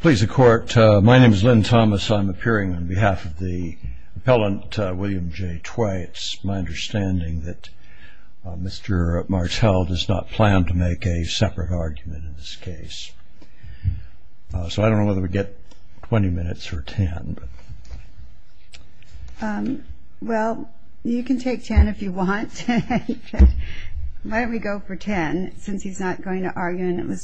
Please the court. My name is Lynn Thomas. I'm appearing on behalf of the appellant William J. Tway. It's my understanding that Mr. Martell does not plan to make a separate argument in this case. So I don't know whether we get 20 minutes or 10. Well you can take 10 if you want. Why don't we go for 10 since he's not going to And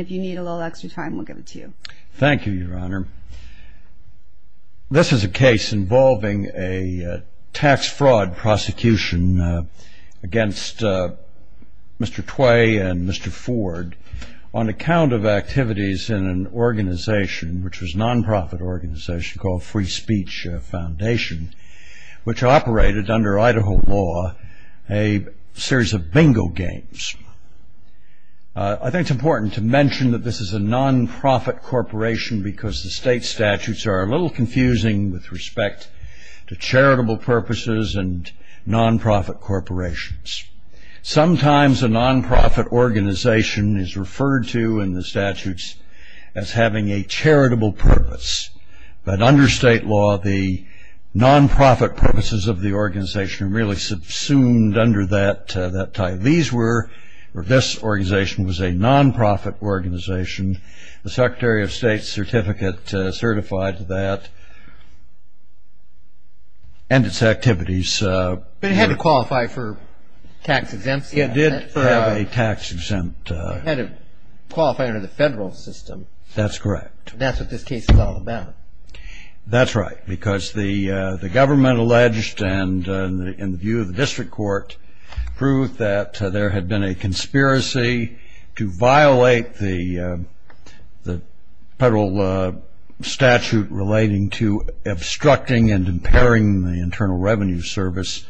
if you need a little extra time, we'll give it to you. Thank you, your honor. This is a case involving a tax fraud prosecution against Mr. Tway and Mr. Ford on account of activities in an organization which was nonprofit organization called Free Speech Foundation, which operated under Idaho law, a series of bingo games. I think it's important to mention that this is a nonprofit corporation because the state statutes are a little confusing with respect to charitable purposes and nonprofit corporations. Sometimes a nonprofit organization is referred to in the statutes as having a charitable purpose, but under state law the nonprofit purposes of the organization really subsumed under that title. This organization was a nonprofit organization. The Secretary of State's certificate certified that and its activities. But it had to qualify for tax exempts. It did have a tax exempt. It had to qualify under the federal system. That's correct. That's what this case is all about. That's right, because the government alleged, and in the view of the district court, proved that there had been a conspiracy to violate the federal statute relating to obstructing and impairing the Internal Revenue Service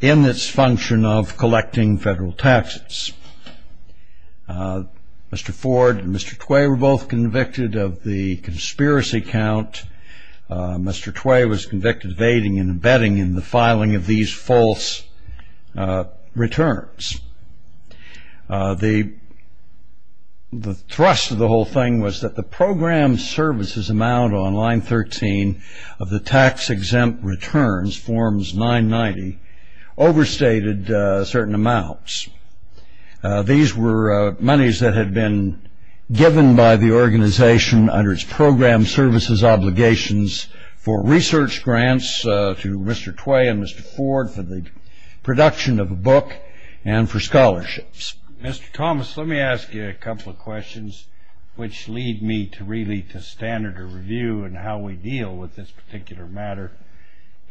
in its function of collecting federal taxes. Mr. Ford and Mr. Tway were both convicted of the conspiracy count. Mr. Tway was convicted of aiding and abetting in the filing of these false returns. The thrust of the whole thing was that the program services amount on line 13 of the tax exempt returns, forms 990, overstated certain amounts. These were monies that had been given by the organization under its program services obligations for research grants to Mr. Tway and Mr. Ford for the production of a book and for scholarships. Mr. Thomas, let me ask you a couple of questions which lead me to really to standard of review and how we deal with this particular matter.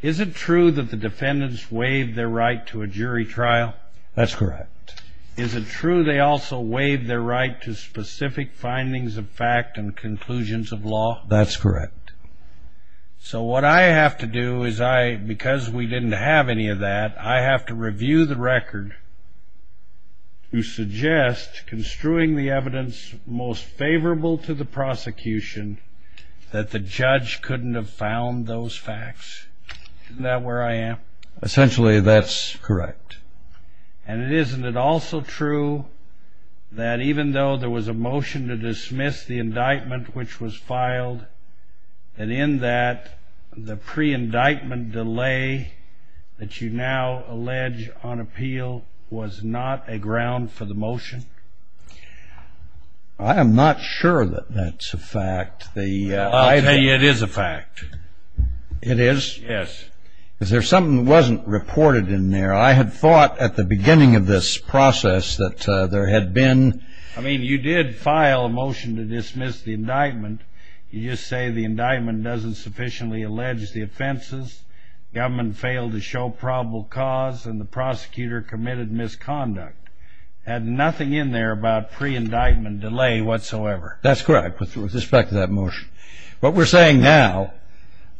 Is it true that the defendants waived their right to a jury trial? That's correct. Is it true they also waived their right to specific findings of fact and conclusions of law? That's correct. So what I have to do is I, because we didn't have any of that, I have to review the record to suggest construing the evidence most favorable to the prosecution that the judge couldn't have found those facts. Isn't that where I am? Essentially, that's correct. And isn't it also true that even though there was a motion to dismiss the indictment which was filed and in that the pre-indictment delay that you now allege on appeal was not a ground for the motion? I am not sure that that's a fact. I'll tell you it is a fact. It is? Yes. Is there something that wasn't reported in there? I had thought at the beginning of this process that there had been... I mean, you did file a motion to dismiss the indictment. You just say the indictment doesn't sufficiently allege the offenses, government failed to show probable cause, and the prosecutor committed misconduct. Had nothing in there about pre-indictment delay whatsoever. That's correct with respect to that motion. What we're saying now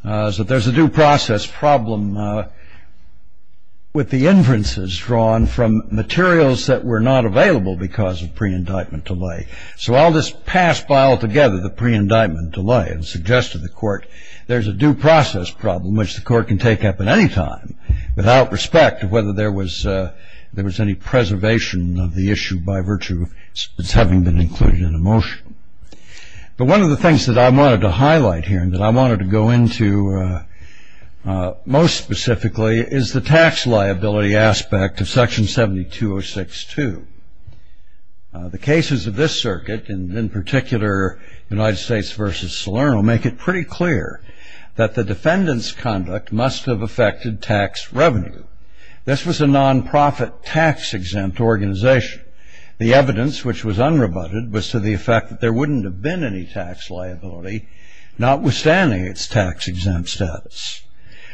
is that there's a due process problem with the inferences drawn from materials that were not available because of pre-indictment delay. So I'll just pass by altogether the pre-indictment delay and suggest to the court there's a due process problem which the court can take up at any time without respect to whether there was any preservation of the issue by virtue of its having been included in the motion. But one of the things that I wanted to highlight here and that I wanted to go into most specifically is the tax liability aspect of section 72062. The cases of this circuit, and in particular United States v. Salerno, make it pretty clear that the defendant's conduct must have affected tax revenue. This was a non-profit tax-exempt organization. The evidence which was unrebutted was to the effect that there wouldn't have been any tax liability, notwithstanding its tax-exempt status.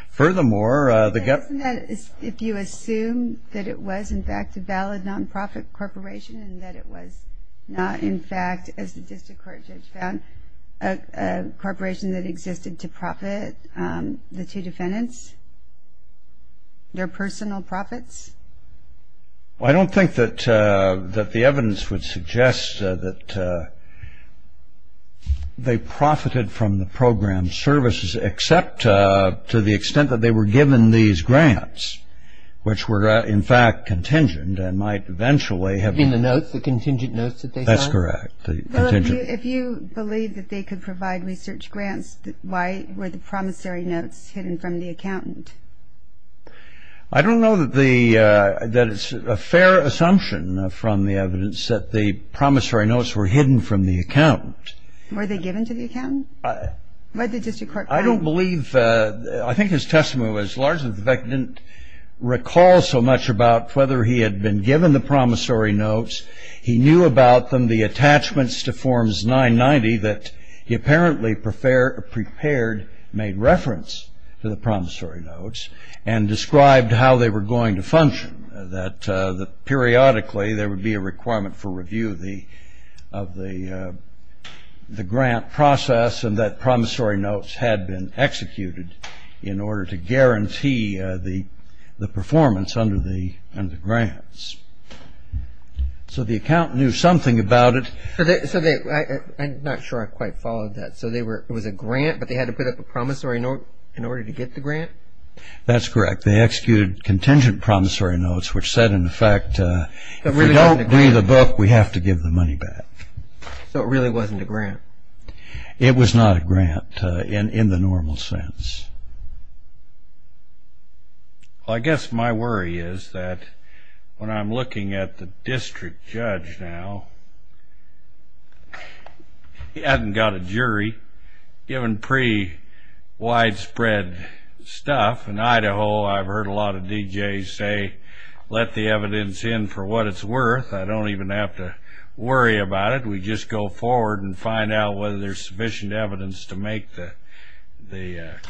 Furthermore, the government... If you assume that it was in fact a valid non-profit corporation and that it was not in fact, as the district court judge found, a corporation that existed to profit the two defendants, their personal profits? I don't think that that the evidence would suggest that they profited from the program services except to the extent that they were given these grants, which were in fact contingent and might eventually have... In the notes, the contingent notes that they saw? That's correct. If you believe that they could provide research grants, why were the promissory notes hidden from the accountant? Were they given to the accountant? I don't believe... I think his testimony was largely that the defendant didn't recall so much about whether he had been given the promissory notes. He knew about them, the attachments to Forms 990 that he apparently prepared, made reference to the promissory notes and described how they were going to function, that the periodically there would be a requirement for review of the grant process and that promissory notes had been executed in order to guarantee the performance under the grants. So the account knew something about it. I'm not sure I quite followed that. So it was a grant, but they had to put up a promissory note in order to get the grant? That's correct. They executed contingent promissory notes which said, in fact, if we don't read the book, we have to give the money back. So it really wasn't a grant? It was not a grant in the normal sense. I guess my worry is that when I'm looking at the district judge now, he hasn't got a jury, given pre-widespread stuff. In Idaho, I've heard a D.J. say, let the evidence in for what it's worth. I don't even have to worry about it. We just go forward and find out whether there's sufficient evidence to make the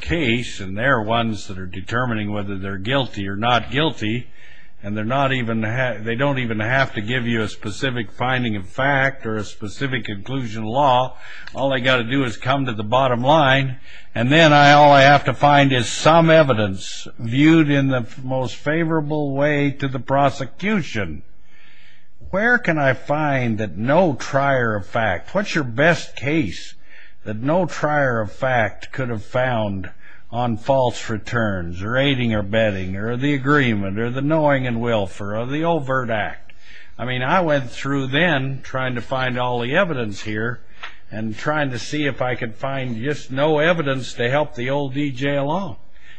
case. And they're ones that are determining whether they're guilty or not guilty. And they don't even have to give you a specific finding of fact or a specific conclusion of law. All they've got to do is come to the most favorable way to the prosecution. Where can I find that no trier of fact, what's your best case that no trier of fact could have found on false returns, or aiding or bedding, or the agreement, or the knowing and willful, or the overt act? I mean, I went through then trying to find all the evidence here and trying to see if I could find just no evidence to help the old D.J. along.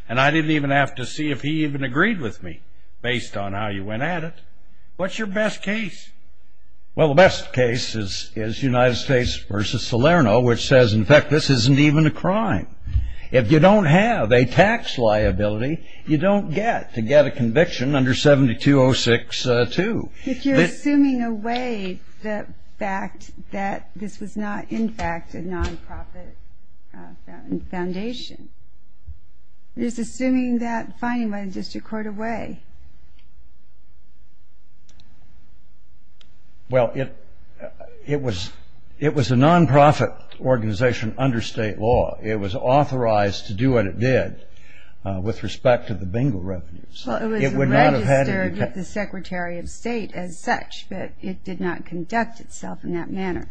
And I didn't even have to see if he even agreed with me, based on how you went at it. What's your best case? Well, the best case is United States v. Salerno, which says, in fact, this isn't even a crime. If you don't have a tax liability, you don't get to get a conviction under 7206-2. If you're assuming away the fact that this was not, in fact, a non-profit foundation, you're just assuming that finding by the district court away. Well, it was a non-profit organization under state law. It was authorized to do what it did with respect to the bingo revenues. Well, it was registered with the Secretary of State as such, but it did not conduct itself in that manner.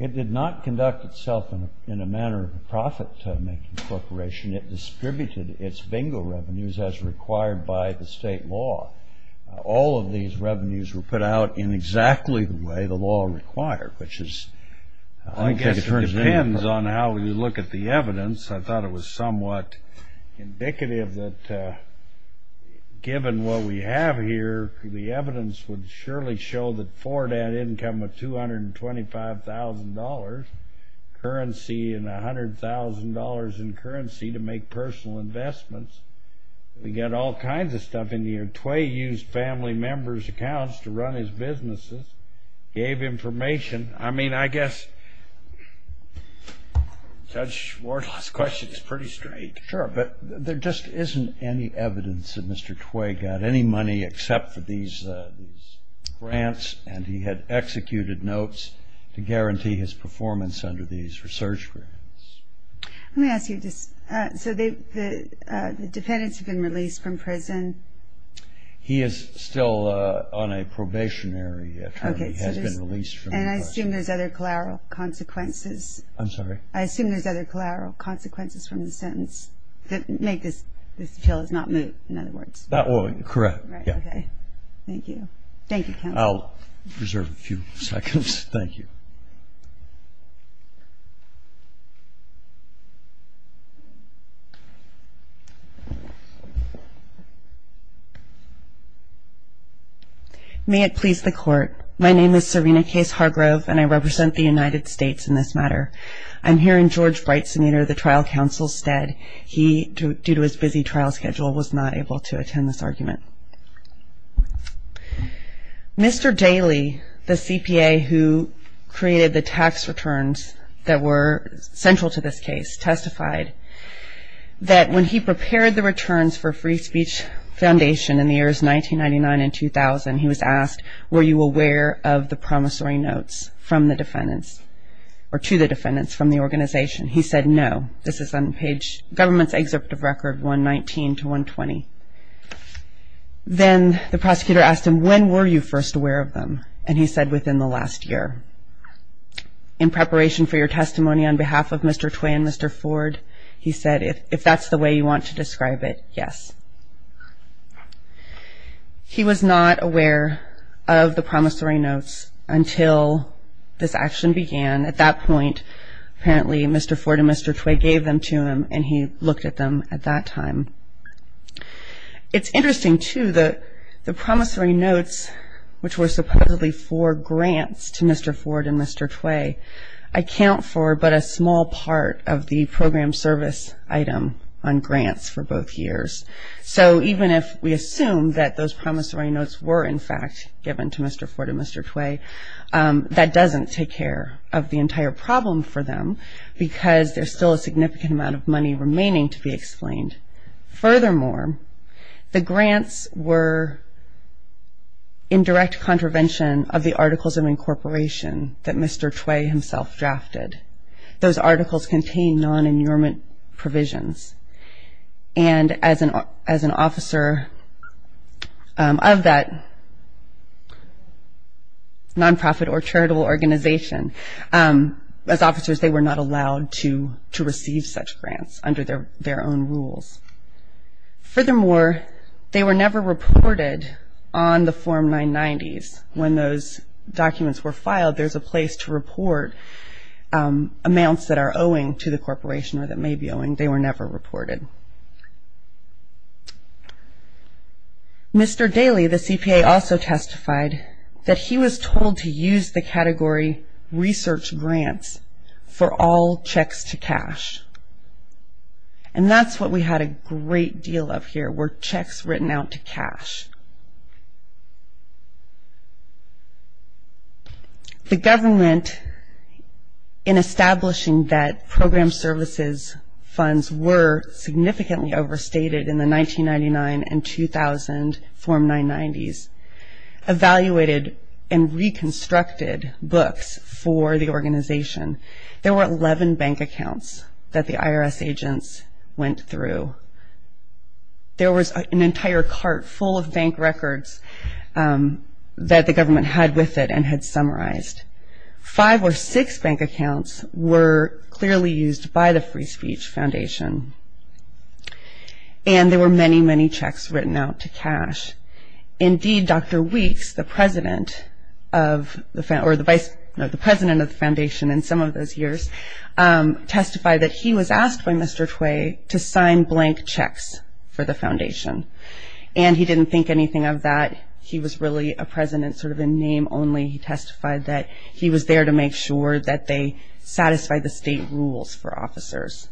It did not conduct itself in a manner of a profit-making corporation. It distributed its bingo revenues as required by the state law. All of these revenues were put out in exactly the way the law required, which is, I guess, it depends on how you look at the evidence. I thought it was somewhat indicative that given what we have here, the evidence would surely show that Ford had income of $225,000 currency and $100,000 in currency to make personal investments. We got all kinds of stuff in here. Tway used family members' accounts to run his businesses, gave information. I mean, I guess Judge Wardle's question is pretty straight. Sure, but there just isn't any evidence that Mr. Tway got any money except for these grants, and he had executed notes to guarantee his performance under these research grants. Let me ask you, so the defendants have been released from prison? He is still on a probationary term. He has been released from prison. And I assume there's other collateral consequences. I'm sorry? I assume there's other collateral consequences from the sentence that make this appeal not moot, in other words. That would be correct. Thank you. Thank you, counsel. I'll reserve a few seconds. Thank you. May it please the court. My name is Serena Case Hargrove, and I represent the United States in this matter. I'm here in George Bright's center, the trial counsel's stead. He, due to his busy trial schedule, was not able to attend this argument. Mr. Daly, the CPA who created the tax returns that were central to this case, testified that when he prepared the returns for Free Speech Foundation in the years 1999 and 2000, he was asked, were you aware of the promissory notes from the defendants, or to the defendants from the organization? He said no. This is on page, government's excerpt of record 119 to 120. Then the prosecutor asked him, when were you first aware of them? And he said within the last year. In preparation for your testimony on behalf of Mr. Tway and Mr. Ford, he said, if that's the way you want to describe it, yes. He was not aware of the promissory notes until this action began. At that point, apparently Mr. Ford and Mr. Tway gave them to him, and he looked at them at that time. It's interesting, too, the promissory notes which were supposedly for grants to Mr. Ford and Mr. Tway account for but a small part of the program service item on grants for both years. So even if we assume that those promissory notes were in fact given to Mr. Ford and Mr. Tway, that doesn't take care of the entire problem for them because there's still a significant amount of money remaining to be explained. Furthermore, the grants were in direct contravention of the articles of incorporation that Mr. Tway himself drafted. Those articles contained non-injurement provisions. And as an officer of that non-profit or charitable organization, as officers they were not allowed to receive such grants under their own rules. Furthermore, they were never reported on the Form 990s. When those documents were filed, there's a place to report amounts that are reported. Mr. Daley, the CPA, also testified that he was told to use the category research grants for all checks to cash. And that's what we had a great deal of here were checks written out to cash. The government, in establishing that program services funds were significantly overstated in the 1999 and 2000 Form 990s, evaluated and reconstructed books for the entire cart full of bank records that the government had with it and had summarized. Five or six bank accounts were clearly used by the Free Speech Foundation. And there were many, many checks written out to cash. Indeed, Dr. Weeks, the president of the foundation in some of those years, testified that he was asked by Mr. Tway to sign blank checks for the foundation. And he didn't think anything of that. He was really a president sort of in name only. He testified that he was there to make sure that they satisfied the state rules for officers.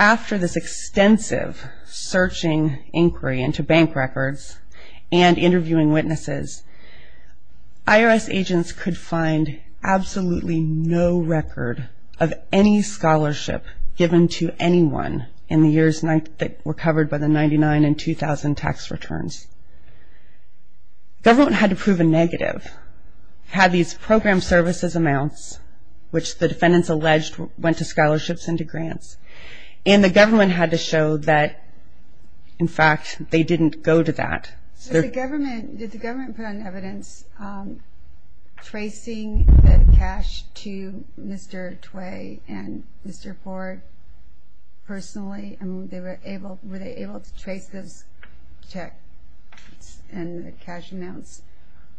After this extensive searching inquiry into bank records and interviewing witnesses, IRS agents could find absolutely no record of any scholarship given to anyone in the years that were covered by the 1999 and 2000 tax returns. The government had to prove a negative, had these program services amounts, which the defendants alleged went to scholarships and to grants. And the government had to show that, in fact, they didn't go to that. Did the government put on evidence tracing the cash to Mr. Tway and Mr. Ford personally? I mean, were they able to trace those checks and the cash amounts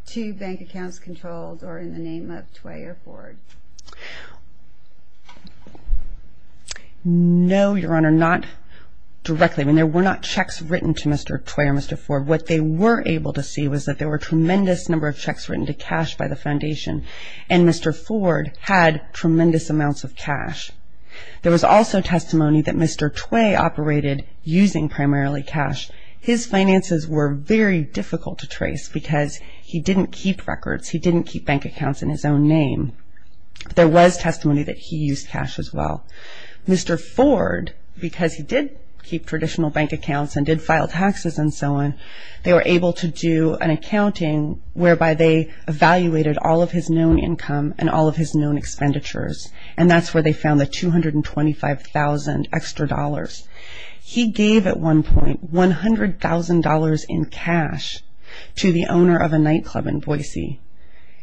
to bank accounts controlled or in the name of Tway or Ford? No, Your Honor, not directly. There were not checks written to Mr. Tway or Mr. Ford. What they were able to see was that there were tremendous number of checks written to cash by the foundation. And Mr. Ford had tremendous amounts of cash. There was also testimony that Mr. Tway operated using primarily cash. His finances were very difficult to trace because he didn't keep records. He didn't keep bank accounts in his own name. There was testimony that he used cash as well. Mr. Ford, because he did keep traditional bank accounts and did file taxes and so on, they were able to do an accounting whereby they evaluated all of his known income and all of his known expenditures. And that's where they found the $225,000 extra dollars. He gave at one point $100,000 in cash to the owner of a nightclub in Boise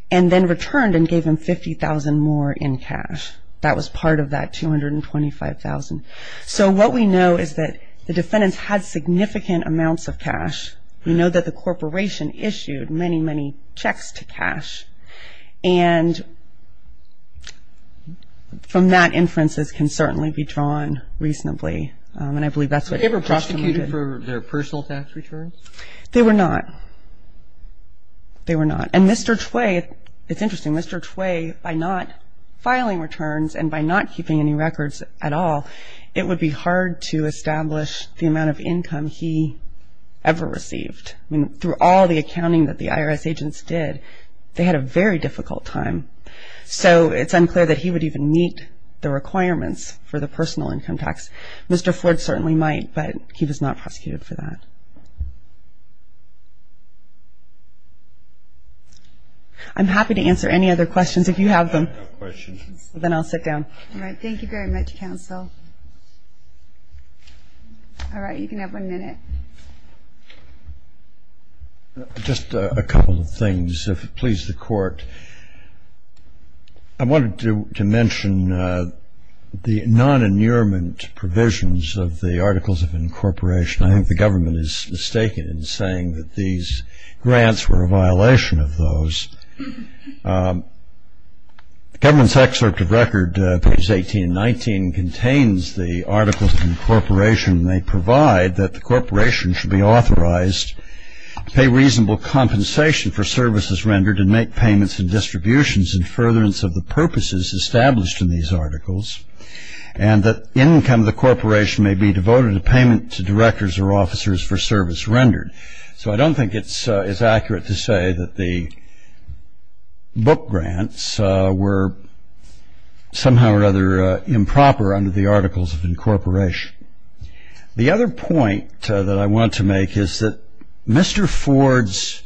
and then returned and gave him $50,000 more in cash. That was part of that $225,000. So what we know is that the defendants had significant amounts of cash. We know that the corporation issued many, many checks to cash. And from that inferences can certainly be drawn reasonably. And I believe that's what Justin did. Were they ever prosecuted for their personal tax returns? They were not. They were not. And Mr. Tway, it's interesting, Mr. Tway, by not filing returns and by not keeping any records at all, it would be hard to establish the amount of income he ever received. I mean, through all the accounting that the IRS agents did, they had a very difficult time. So it's unclear that he would even meet the requirements for the personal income tax. Mr. Ford certainly might, but he was not prosecuted for that. I'm happy to answer any other questions if you have them. I have a question. Then I'll sit down. All right. Thank you very much, counsel. All right, you can have one minute. Just a couple of things, if it pleases the court. I wanted to mention the non-annulment provisions of the Articles of Incorporation. I think the government is mistaken in saying that these grants were a violation of those. The government's excerpt of record, pages 18 and 19, contains the Articles of Incorporation, and they provide that the corporation should be authorized to pay reasonable compensation for services rendered and make payments and distributions in furtherance of the purposes established in these articles, and that income of the corporation may be devoted to payment to directors or officers for service rendered. So I don't think it's accurate to say that the book grants were somehow or other improper under the Articles of Incorporation. The other point that I want to make is that Mr. Ford's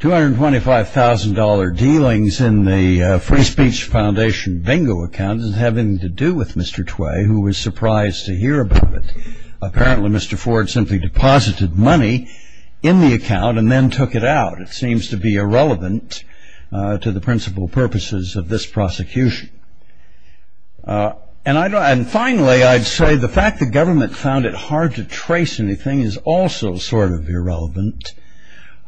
$225,000 dealings in the Free Speech Foundation bingo account didn't have anything to do with Mr. Tway, who was surprised to in the account and then took it out. It seems to be irrelevant to the principal purposes of this prosecution. And finally, I'd say the fact the government found it hard to trace anything is also sort of irrelevant.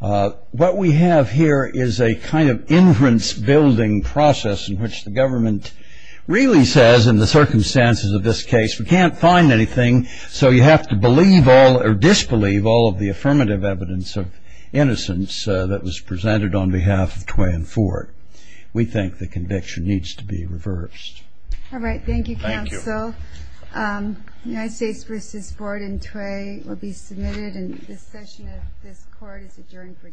What we have here is a kind of inference-building process in which the government really says, in the circumstances of this case, we can't find anything, so you have to believe all or disbelieve all of the affirmative evidence of innocence that was presented on behalf of Tway and Ford. We think the conviction needs to be reversed. All right. Thank you, counsel. Thank you. The United States V. Board and Tway will be submitted, and this session of this court is adjourned for today.